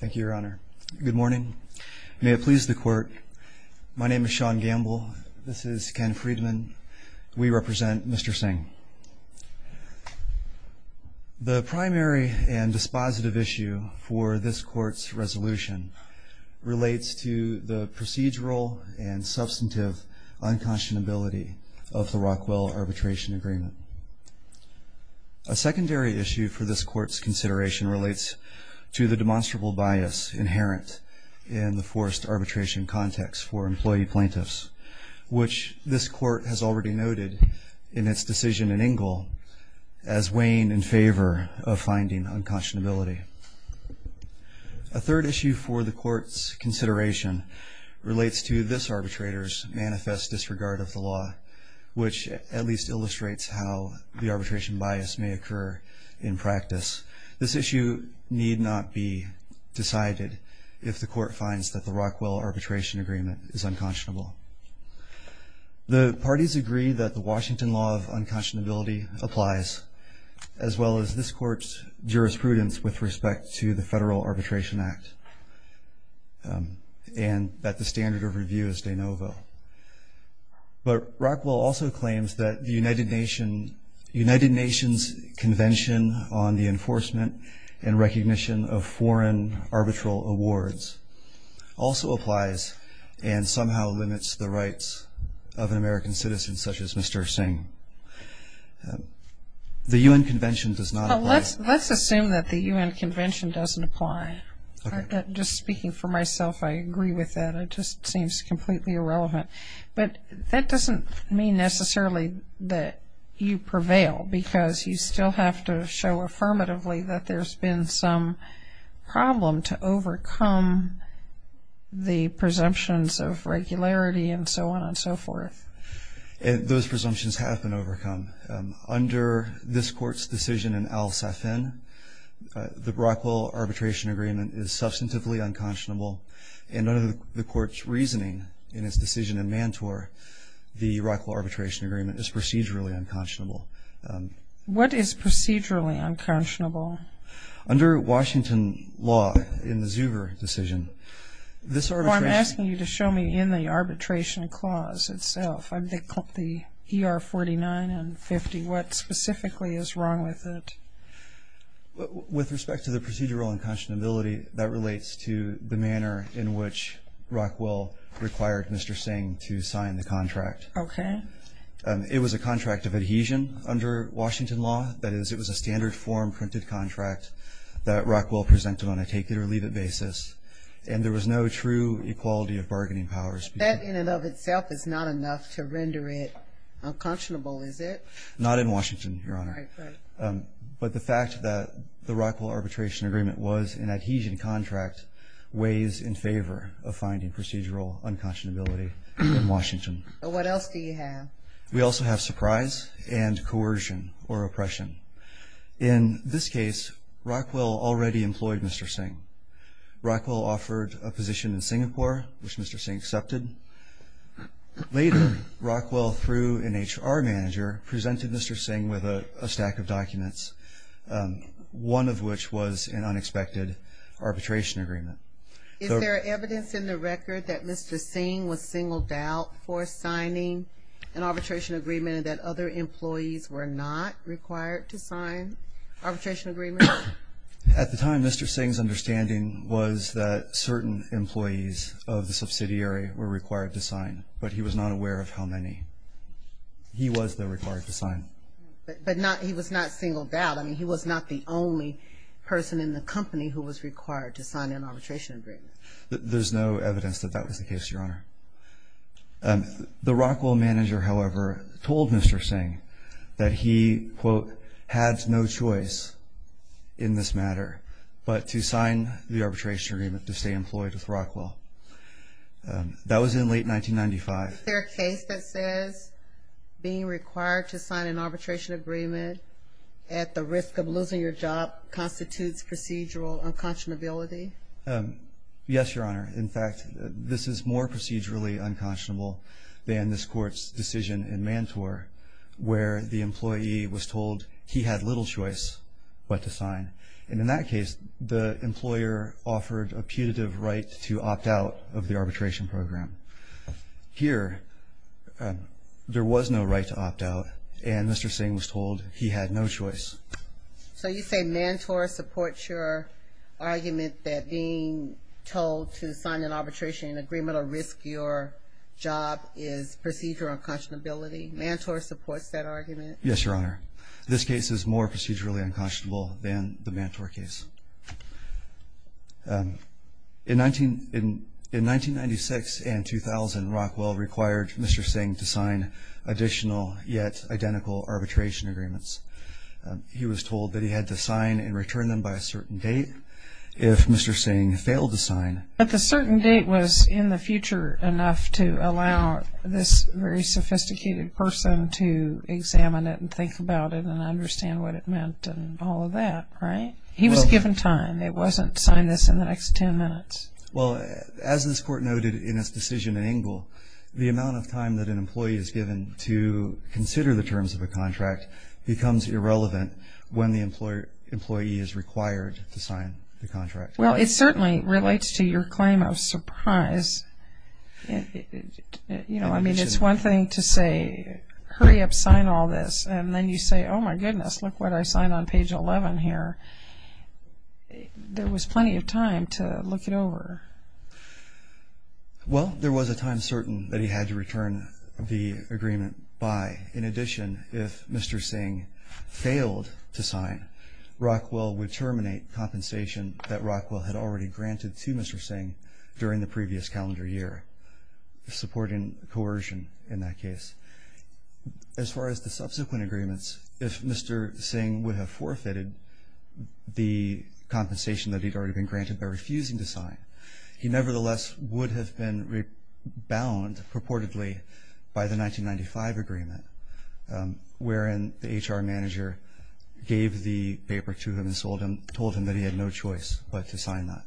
Thank you, Your Honor. Good morning. May it please the Court, my name is Sean Gamble. This is Ken Friedman. We represent Mr. Singh. The primary and dispositive issue for this Court's resolution relates to the procedural and substantive unconscionability of the Rockwell arbitration agreement. A demonstrable bias inherent in the forced arbitration context for employee plaintiffs, which this Court has already noted in its decision in Ingle as weighing in favor of finding unconscionability. A third issue for the Court's consideration relates to this arbitrator's manifest disregard of the law, which at least illustrates how the arbitration bias may occur in practice. This issue need not be decided if the Court finds that the Rockwell arbitration agreement is unconscionable. The parties agree that the Washington law of unconscionability applies, as well as this Court's jurisprudence with respect to the Federal Arbitration Act and that the standard of review is de novo. But Rockwell also claims that the United Nation's Convention on the Enforcement and Recognition of Foreign Arbitral Awards also applies and somehow limits the rights of an American citizen such as Mr. Singh. The UN Convention does not apply. Let's assume that the UN Convention doesn't apply. Just speaking for myself, I agree with that. It just seems completely irrelevant. But that doesn't mean necessarily that you prevail because you still have to show affirmatively that there's been some problem to overcome the presumptions of regularity and so on and so forth. Those presumptions have been overcome. Under this Court's decision in Al Saifen, the Rockwell arbitration agreement is substantively unconscionable. And under the Court's reasoning in its decision in Mantour, the Rockwell arbitration agreement is procedurally unconscionable. What is procedurally unconscionable? Under Washington law, in the Zuber decision, this arbitration... I'm asking you to show me in the arbitration clause itself, the ER 49 and 50, what specifically is wrong with it? With respect to the procedural unconscionability, that relates to the manner in which Rockwell required Mr. Singh to sign the contract. Okay. It was a contract of adhesion under Washington law. That is, it was a standard form printed contract that Rockwell presented on a take-it-or-leave-it basis. And there was no true equality of bargaining powers. That in and of itself is not enough to render it unconscionable, is it? Not in Washington, Your Honor. But the fact that the Rockwell arbitration agreement was an adhesion contract weighs in favor of finding procedural unconscionability in the Rockwell arbitration agreement. What else do you have? We also have surprise and coercion or oppression. In this case, Rockwell already employed Mr. Singh. Rockwell offered a position in Singapore, which Mr. Singh accepted. Later, Rockwell, through an HR manager, presented Mr. Singh with a stack of documents, one of which was an unexpected arbitration agreement. Is there evidence in the record that Mr. Singh was required to sign an arbitration agreement and that other employees were not required to sign arbitration agreements? At the time, Mr. Singh's understanding was that certain employees of the subsidiary were required to sign, but he was not aware of how many. He was the required to sign. But he was not single dad. I mean, he was not the only person in the company who was required to sign an arbitration agreement. There's no evidence that that was the case, Your Honor. The Rockwell manager, however, told Mr. Singh that he, quote, had no choice in this matter but to sign the arbitration agreement to stay employed with Rockwell. That was in late 1995. Is there a case that says being required to sign an arbitration agreement at the risk of losing your job constitutes procedural unconscionability? Yes, Your Honor. In fact, this is more procedurally unconscionable than this Court's decision in Mantour where the employee was told he had little choice but to sign. And in that case, the employer offered a putative right to opt out of the arbitration program. Here, there was no right to opt out, and Mr. Singh was told he had no choice. So you say Mantour supports your argument that being told to sign an arbitration agreement or risk your job is procedural unconscionability? Mantour supports that argument? Yes, Your Honor. This case is more procedurally unconscionable than the Mantour case. In 1996 and 2000, Rockwell required Mr. Singh to sign additional yet identical arbitration agreements. He was told that he had to sign and return them by a certain date. If Mr. Singh failed to sign... But the certain date was in the future enough to allow this very sophisticated person to examine it and think about it and understand what it meant and all of that, right? He was given time. It wasn't, sign this in the next 10 minutes. Well, as this Court noted in its decision in Ingle, the amount of time that an employee has to consider the terms of a contract becomes irrelevant when the employee is required to sign the contract. Well, it certainly relates to your claim of surprise. You know, I mean, it's one thing to say, hurry up, sign all this, and then you say, oh my goodness, look what I signed on page 11 here. There was plenty of time to look it over. Well, there was a time certain that he had to return the agreement by. In addition, if Mr. Singh failed to sign, Rockwell would terminate compensation that Rockwell had already granted to Mr. Singh during the previous calendar year, supporting coercion in that case. As far as the subsequent agreements, if Mr. Singh would have forfeited the compensation that he'd already been granted by refusing to sign, he nevertheless would have been rebound purportedly by the 1995 agreement, wherein the HR manager gave the paper to him and told him that he had no choice but to sign that.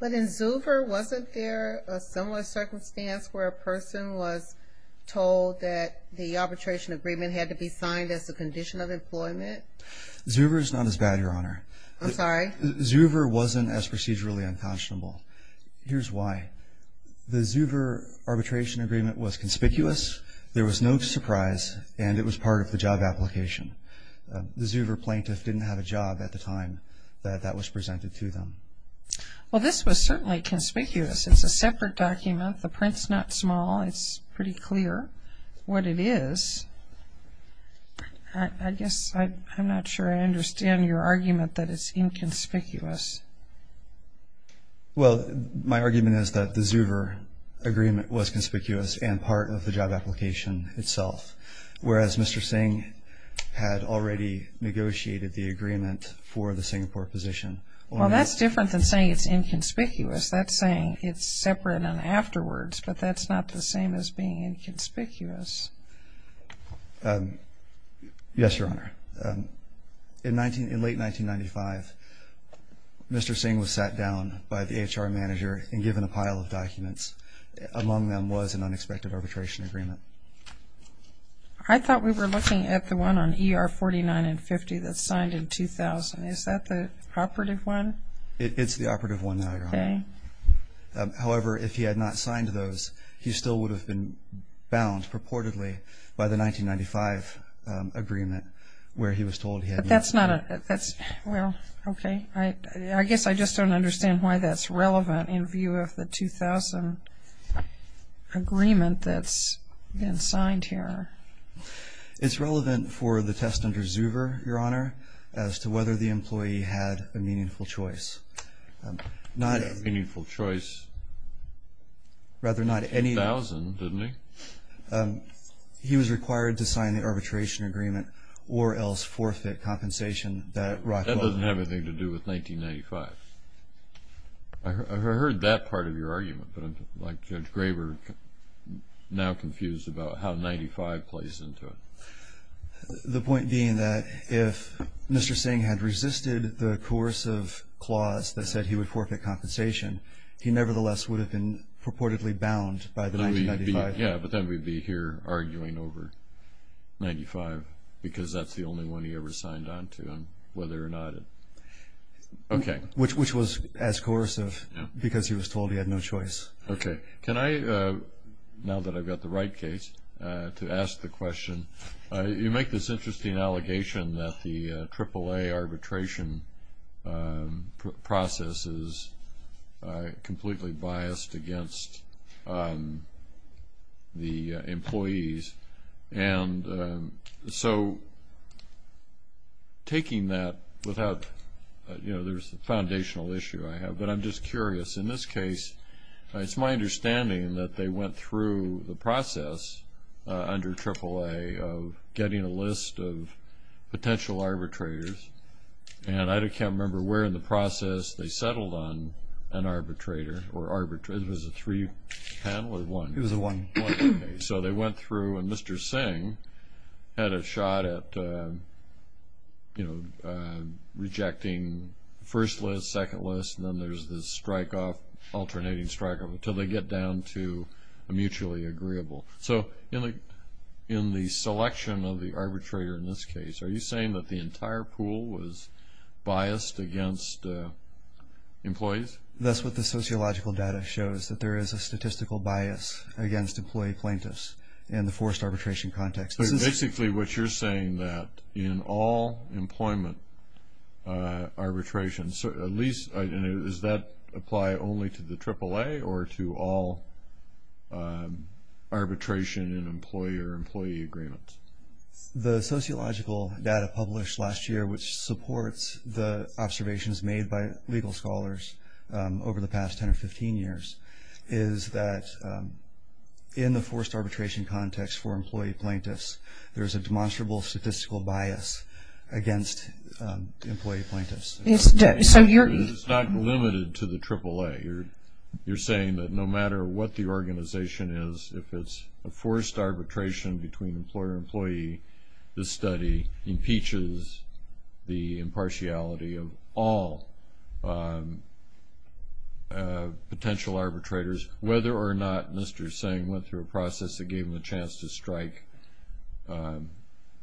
But in Zuber, wasn't there a similar circumstance where a person was told that the arbitration agreement had to be signed as a condition of employment? Zuber's not as bad, Your Honor. Zuber wasn't as procedurally unconscionable. Here's why. The Zuber arbitration agreement was conspicuous, there was no surprise, and it was part of the job application. The Zuber plaintiff didn't have a job at the time that that was presented to them. Well, this was certainly conspicuous. It's a separate document. The print's not small. It's pretty clear what it is. I guess I'm not sure I understand your argument that it's inconspicuous. Well, my argument is that the Zuber agreement was conspicuous and part of the job application itself, whereas Mr. Singh had already negotiated the agreement for the Singapore position. Well, that's different than saying it's inconspicuous. That's saying it's separate and afterwards, but that's not the same as being inconspicuous. Yes, Your Honor. In late 1995, Mr. Singh was sat down by the HR manager and given a pile of documents. Among them was an unexpected arbitration agreement. I thought we were looking at the one on ER 49 and 50 that's signed in 2000. Is that the operative one? It's the operative one now, Your Honor. However, if he had not signed those, he still would have been bound purportedly by the 1995 agreement where he was told he had not signed them. That's not a, that's, well, okay. I guess I just don't understand why that's relevant in view of the 2000 agreement that's been signed here. It's relevant for the test under Zuber, Your Honor, as to whether the employee had a meaningful choice. Not a meaningful choice. Rather not any. 2000, didn't he? He was required to sign the arbitration agreement or else forfeit compensation that Rockwell. That doesn't have anything to do with 1995. I heard that part of your argument, but I'm like Judge Graber, now confused about how 95 plays into it. The point being that if Mr. Singh had resisted the coercive clause that said he would forfeit compensation, he nevertheless would have been purportedly bound by the 1995. Yeah, but then we'd be here arguing over 95 because that's the only one he ever signed on to and whether or not it, Okay. Which was as coercive because he was told he had no choice. Okay. Can I, now that I've got the right case, to ask the question, you make this interesting allegation that the AAA arbitration process is completely biased against the employees and so taking that without, you know, there's a foundational issue I have, but I'm just curious. In this case, it's my understanding that they went through the process under AAA of getting a list of potential arbitrators and I can't remember where in the process they settled on an arbitrator or, it was a three panel or one? It was a one. So they went through and Mr. Singh had a shot at, you know, rejecting first list, second list, and then there's this strike off, alternating strike off until they get down to a mutually agreeable. So in the selection of the arbitrator in this case, are you saying that the entire pool was biased against employees? That's what the sociological data shows, that there is a statistical bias against employee plaintiffs in the forced arbitration context. So basically what you're saying that in all employment arbitration, so at least, and does that apply only to the AAA or to all arbitration in employer-employee agreements? The sociological data published last year, which supports the observations made by legal scholars over the past 10 or 15 years, is that in the forced arbitration context for employee plaintiffs, there's a demonstrable statistical bias against employee plaintiffs. It's not limited to the AAA. You're saying that no matter what the organization is, if it's a forced arbitration between employer-employee, this study impeaches the impartiality of all potential arbitrators, whether or not Mr. Singh went through a process that gave him a chance to strike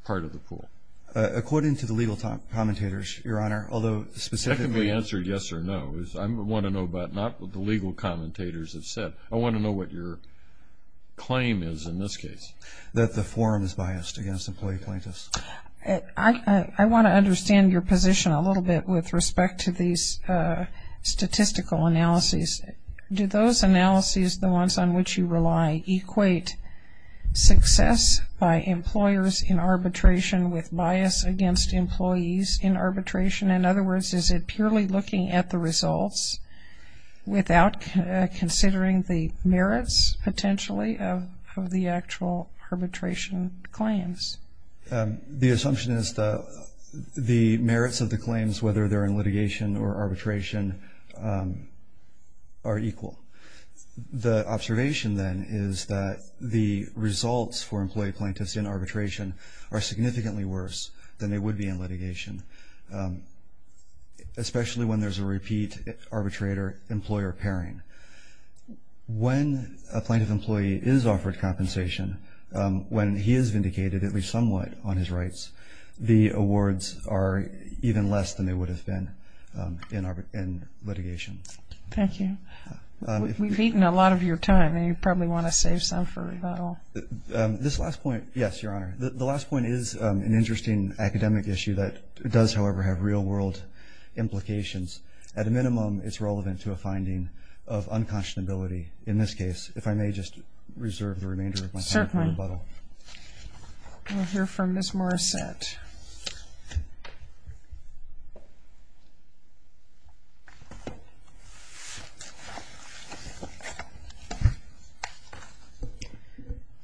part of the pool. According to the legal commentators, Your Honor, although specifically... The second answer, yes or no, is I want to know about not what the legal commentators have said. I want to know what your claim is in this case. That the forum is biased against employee plaintiffs. I want to understand your position a little bit with respect to these statistical analyses. Do those analyses, the ones on which you rely, equate success by employers in arbitration with bias against employees in arbitration? In other words, is it purely looking at the results without considering the merits, potentially, of the actual arbitration claims? The assumption is the merits of the claims, whether they're in litigation or arbitration, are equal. The observation, then, is that the results for employee plaintiffs in arbitration are significantly worse than they would be in litigation, especially when there's a repeat arbitrator-employer pairing. When a plaintiff employee is offered compensation, when he is vindicated, at least somewhat, on his rights, the awards are even less than they would have been in litigation. Thank you. We've eaten a lot of your time, and you probably want to save some for... This last point, yes, Your Honor. The last point is an interesting academic issue that does, however, have real-world implications. At a minimum, it's relevant to a finding of unconscionability, in this case, if I may just reserve the remainder of my time for rebuttal. Certainly. We'll hear from Ms. Morissette.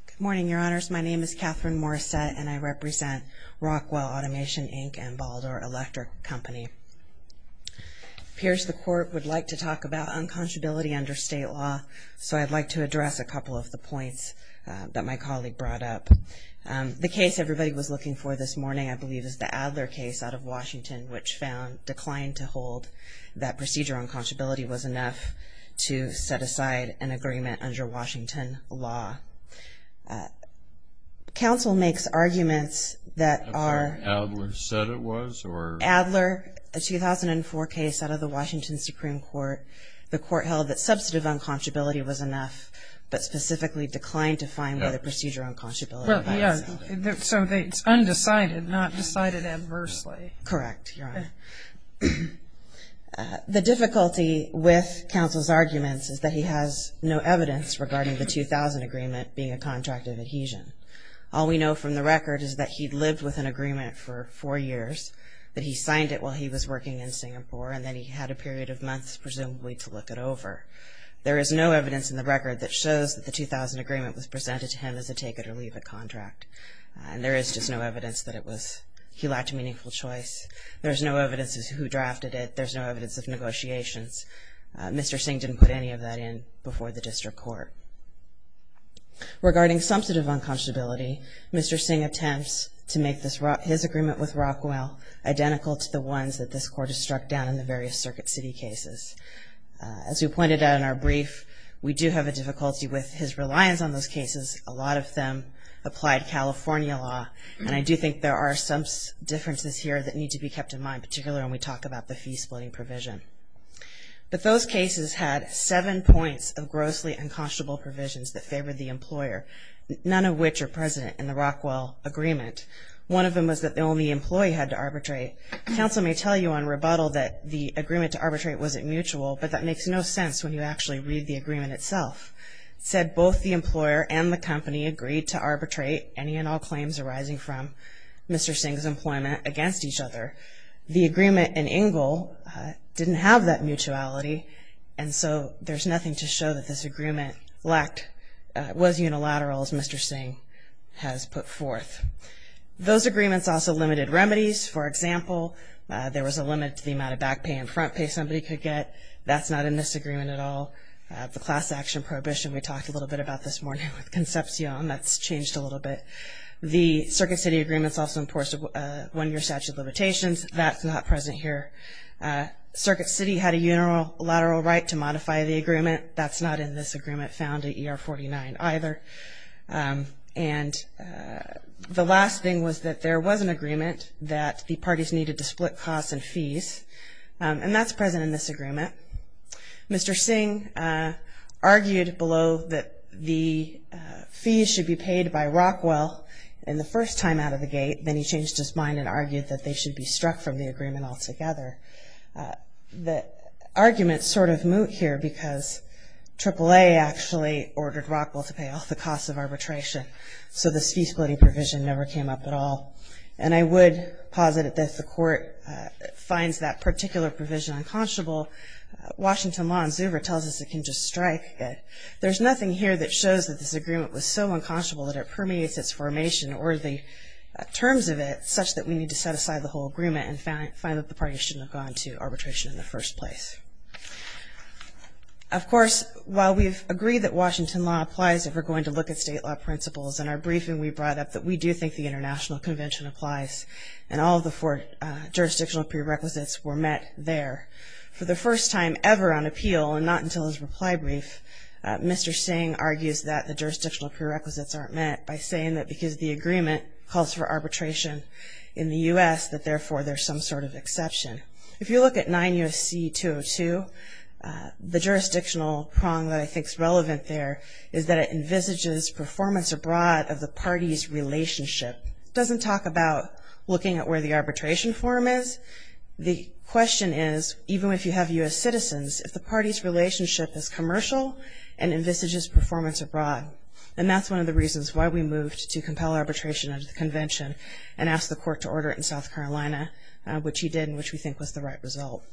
Good morning, Your Honors. My name is Catherine Morissette, and I represent Rockwell Automation, Inc. and Baldor Electric Company. It appears the Court would like to talk about unconscionability under state law, so I'd like to address a couple of the points that my colleague brought up. The case everybody was looking for this morning, I believe, is the Adler case out of Washington, which found decline to hold that procedure unconscionability was enough to set aside an agreement under Washington law. Council makes arguments that are... Adler said it was, or... Adler, a 2004 case out of the Washington Supreme Court. The Court held that substantive unconscionability was enough, but specifically declined to find whether procedure unconscionability... Well, yes, so it's undecided, not decided adversely. Correct, Your Honor. The difficulty with Council's arguments is that he has no evidence regarding the 2000 agreement being a contract of adhesion. All we know from the record is that he'd lived with an agreement for four years, that he signed it while he was working in Singapore, and then he had a period of months, presumably, to look it over. There is no evidence in the record that shows that the 2000 agreement was presented to him as a take-it-or-leave-it contract. And there is just no evidence that it was... He lacked meaningful choice. There's no evidence as to who drafted it. There's no evidence of negotiations. Mr. Singh didn't put any of that in before the District Court. Regarding substantive unconscionability, Mr. Singh attempts to make his agreement with Rockwell identical to the ones that this Court has struck down in the various Circuit City cases. As we pointed out in our brief, we do have a difficulty with his reliance on those cases. A lot of them applied California law, and I do think there are some differences here that need to be kept in mind, particularly when we talk about the fee-splitting provision. But those cases had seven points of grossly unconscionable provisions that favored the employer, none of which are present in the Rockwell agreement. One of them was that the only employee had to arbitrate. Counsel may tell you on rebuttal that the agreement to arbitrate wasn't mutual, when you actually read the agreement itself. It said both the employer and the company agreed to arbitrate any and all claims arising from Mr. Singh's employment against each other. The agreement in Ingle didn't have that mutuality, and so there's nothing to show that this agreement was unilateral as Mr. Singh has put forth. Those agreements also limited remedies. For example, there was a limit to the amount of back pay and front pay somebody could get. That's not a misagreement at all. The class action prohibition we talked a little bit about this morning with Concepcion, that's changed a little bit. The Circuit City agreements also enforced a one-year statute of limitations. That's not present here. Circuit City had a unilateral right to modify the agreement. That's not in this agreement found at ER 49 either. The last thing was that there was an agreement that the parties needed to split costs and fees, and that's present in this agreement. Mr. Singh argued below that the fees should be paid by Rockwell in the first time out of the gate, then he changed his mind and argued that they should be struck from the agreement altogether. The arguments sort of moot here because AAA actually ordered Rockwell to pay off the costs of arbitration, so the fees splitting provision never came up at all. And I would posit that if the Court finds that particular provision unconscionable, Washington law in Zuber tells us it can just strike it. There's nothing here that shows that this agreement was so unconscionable that it permeates its formation or the terms of it such that we need to set aside the whole agreement and find that the parties shouldn't have gone to arbitration in the first place. Of course, while we've agreed that Washington law applies if we're going to look at state law principles in our briefing we brought up that we do think the International Convention applies and all of the four jurisdictional prerequisites were met there. For the first time ever on appeal and not until his reply brief Mr. Singh argues that the jurisdictional prerequisites aren't met by saying that because the agreement calls for arbitration in the U.S. that therefore there's some sort of exception. If you look at 9 U.S.C. 202 the jurisdictional prong that I think is relevant there is that it envisages performance abroad of the parties' relationship. It doesn't talk about looking at where the arbitration forum is the question is even if you have U.S. citizens if the parties' relationship is commercial and envisages performance abroad then that's one of the reasons why we moved to compel arbitration under the convention and asked the court to order it in South Carolina which he did and which we think was the right result.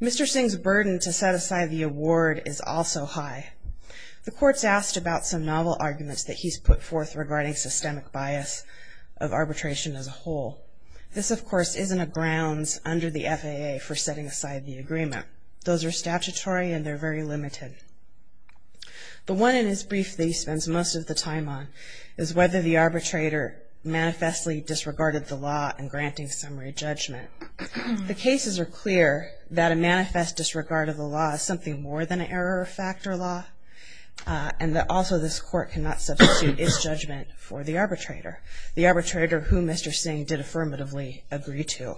Mr. Singh's burden to set aside the award is also high. The court's asked about some novel arguments that he's put forth regarding systemic bias of arbitration as a whole. This of course isn't a grounds under the FAA for setting aside the agreement. Those are statutory and they're very limited. The one in his brief that he spends most of the time on is whether the arbitrator manifestly disregarded the law and granting summary judgment. The cases are clear that a manifest disregard of the law is something more than an error of factor law and that also this court cannot substitute its judgment for the arbitrator. The arbitrator who Mr. Singh did affirmatively agree to.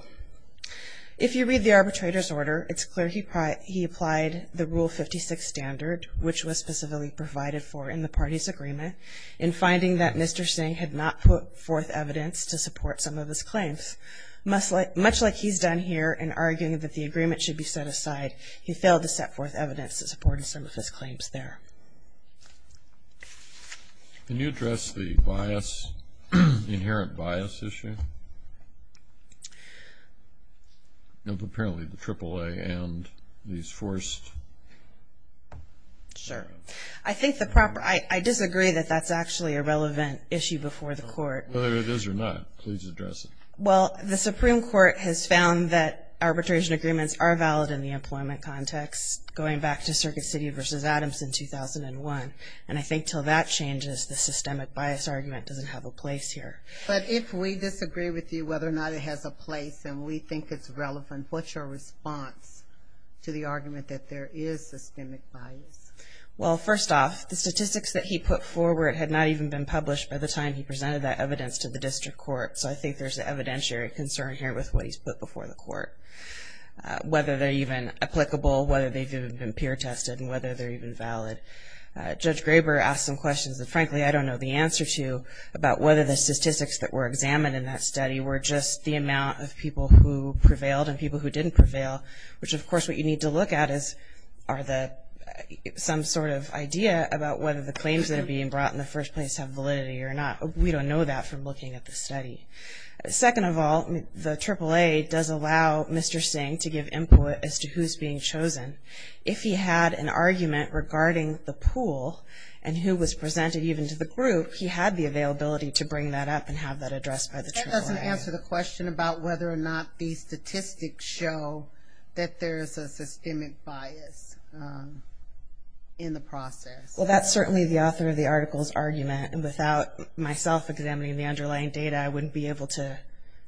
If you read the arbitrator's order, it's clear he applied the Rule 56 standard which was specifically provided for in the parties' agreement in finding that Mr. Singh had not put forth evidence to support some of his claims. Much like he's done here in arguing that the agreement should be set aside, he failed to set forth evidence to support some of his claims there. Can you address the inherent bias issue? Apparently the AAA and these forced... Sure. I think the proper... I disagree that that's actually a relevant issue before the court. Whether it is or not, please address it. Well, the Supreme Court has found that arbitration agreements are valid in the employment context, going back to Circuit City v. Adams in 2001. And I think till that changes, the systemic bias argument doesn't have a place here. But if we disagree with you whether or not it has a place and we think it's relevant, what's your response to the argument that there is systemic bias? Well, first off, the statistics that he put forward had not even been published by the time he presented that evidence to the district court, so I think there's an evidentiary concern here with what he's put before the court. Whether they're even applicable, whether they've even been peer-tested, and whether they're even valid. Judge Graber asked some questions that, frankly, I don't know the answer to about whether the statistics that were examined in that study were just the amount of people who prevailed and people who didn't prevail, which, of course, what you need to look at is are the... some sort of idea about whether the claims that are being brought in the first place have validity or not. We don't know that from looking at the study. Second of all, the AAA does allow Mr. Singh to give input as to who's being chosen. If he had an argument regarding the pool and who was presented, even to the group, he had the availability to bring that up and have that addressed by the AAA. That doesn't answer the question about whether or not the statistics show that there's a systemic bias in the process. Well, that's certainly the author of the article's argument, and without myself examining the underlying data, I wouldn't be able to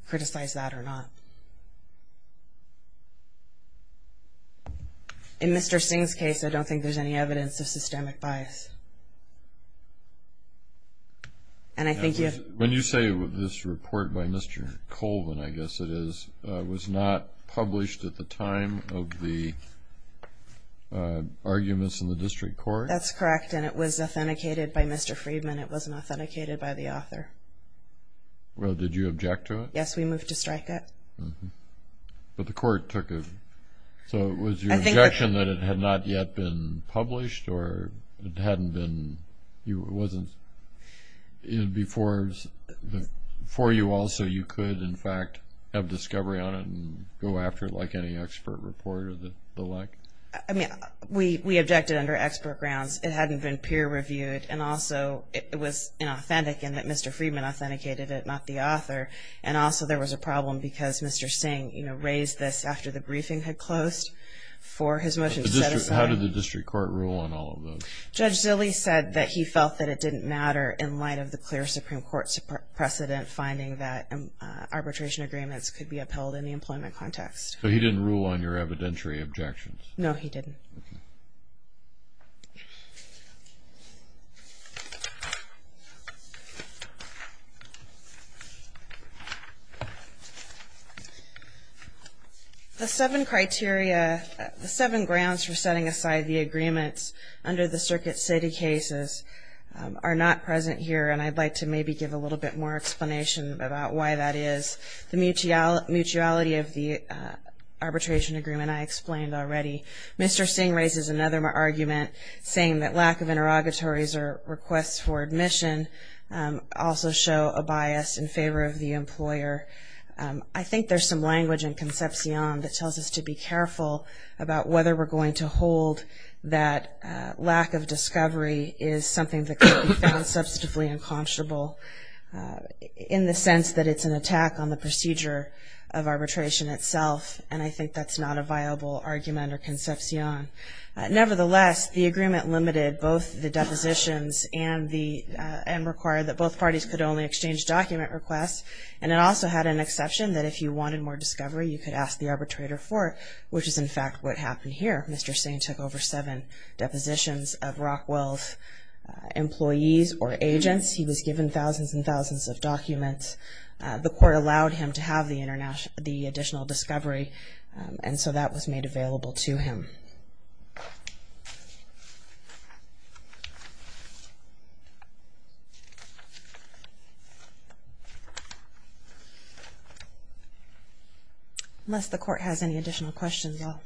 criticize that or not. In Mr. Singh's case, I don't think there's any evidence of systemic bias. And I think you have... When you say this report by Mr. Colvin, I guess it is, was not published at the time of the arguments in the district court? That's correct, and it was authenticated by Mr. Friedman. It wasn't authenticated by the author. Well, did you object to it? Yes, we moved to strike it. But the court took it. So was your objection that it had not yet been published or it hadn't been... Before you also, you could, in fact, have discovery on it and go after it like any expert report or the like? I mean, we objected under expert grounds. It hadn't been peer-reviewed, and also it was inauthentic in that Mr. Friedman authenticated it, not the author. And also there was a problem because Mr. Singh raised this after the briefing had closed for his motion to set aside. How did the district court rule on all of those? Judge Zille said that he felt that it didn't matter in light of the clear Supreme Court's precedent finding that arbitration agreements could be upheld in the employment context. So he didn't rule on your evidentiary objections? No, he didn't. The seven criteria, the seven grounds for setting aside the agreements under the Circuit City cases are not present here, and I'd like to maybe give a little bit more explanation about why that is. The mutuality of the arbitration agreement I explained argument, saying that lack of interrogatories or requests for an arbitration agreement is not an issue. The arguments for admission also show a bias in favor of the employer. I think there's some language in Concepcion that tells us to be careful about whether we're going to hold that lack of discovery is something that could be found substantively unconscionable in the sense that it's an attack on the procedure of arbitration itself, and I think that's not a viable argument under Concepcion. Nevertheless, the agreement limited both the depositions and required that both parties could only exchange document requests, and it also had an exception that if you wanted more discovery, you could ask the arbitrator for it, which is in fact what happened here. Mr. Sain took over seven depositions of Rockwell's employees or agents. He was given thousands and thousands of documents. The court allowed him to have the additional discovery, and so that was made available to him. Unless the court has any additional questions, I'll...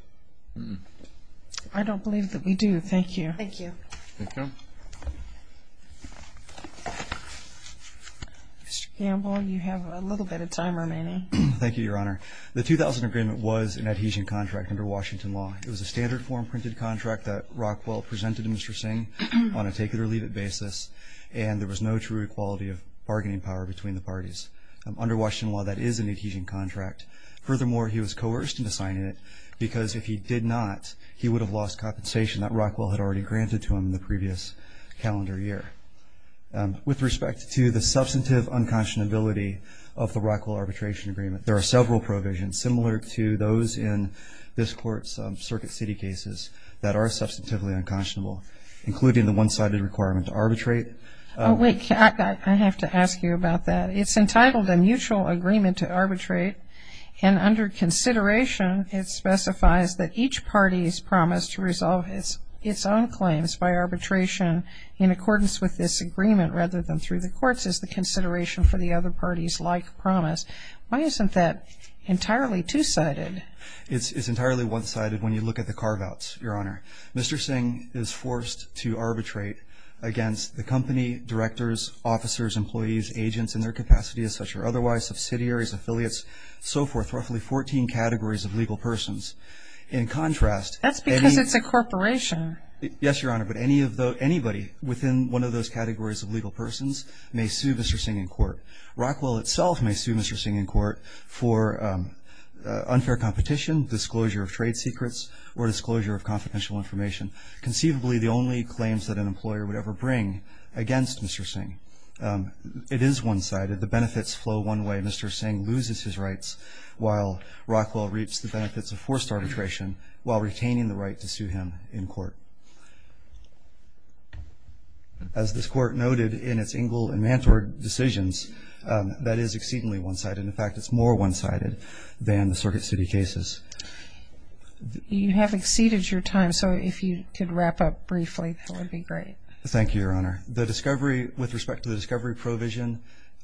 I don't believe that we do. Thank you. Thank you. Mr. Gamble, you have a little bit of time remaining. Thank you, Your Honor. The 2000 agreement was an adhesion contract under Washington law. It was a Rockwell presented to Mr. Singh, and it was a standard form printed contract that Rockwell signed on a take-it-or-leave-it basis, and there was no true equality of bargaining power between the parties. Under Washington law, that is an adhesion contract. Furthermore, he was coerced into signing it because if he did not, he would have lost compensation that Rockwell had already granted to him in the previous calendar year. With respect to the substantive unconscionability of the Rockwell arbitration agreement, there are several provisions similar to those in this court's Circuit City cases that are substantively unconscionable, including the one-sided requirement to arbitrate. Oh, wait. I have to ask you about that. It's entitled a mutual agreement to arbitrate, and under consideration, it specifies that each party's promise to resolve its own claims by arbitration in accordance with this agreement rather than through the courts is the consideration for the other party's like promise. Why isn't that entirely two-sided? It's entirely one-sided when you look at the carve-outs, Your Honor. Mr. Singh is forced to arbitrate against the company directors, officers, employees, agents in their capacity as such or otherwise, subsidiaries, affiliates, so forth, roughly 14 categories of legal persons. In contrast, any That's because it's a corporation. Yes, Your Honor, but anybody within one of those categories of legal persons may sue Mr. Singh in court. Rockwell itself may sue Mr. Singh in court for unfair competition, disclosure of trade secrets, or disclosure of confidential information, conceivably the only claims that an employer would ever bring against Mr. Singh. It is one-sided. The benefits flow one way. Mr. Singh loses his rights while Rockwell reaps the benefits of forced arbitration while retaining the right to sue him in court. As this court noted in its Engle and Mantorg decisions, that is exceedingly one-sided. In fact, it's more one-sided than the Circuit City cases. You have exceeded your time, so if you could wrap up briefly, that would be great. Thank you, Your Honor. The discovery with respect to the discovery provision,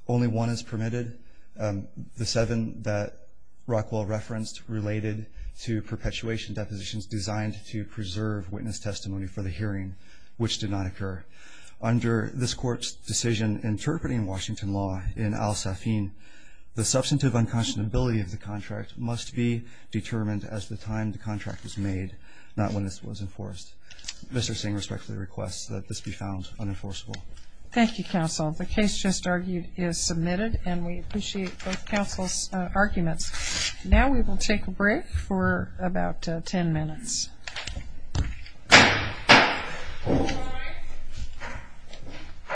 only one is permitted. The seven that Rockwell referenced related to perpetuation depositions designed to preserve witness testimony for the hearing, which did not occur. Under this court's decision interpreting Washington law in La Saffine, the substantive unconscionability of the contract must be determined as the time the contract was made, not when this was enforced. Mr. Singh respectfully requests that this be found unenforceable. Thank you, counsel. The case just argued is submitted, and we appreciate both counsel's arguments. Now we will take a break for about ten minutes.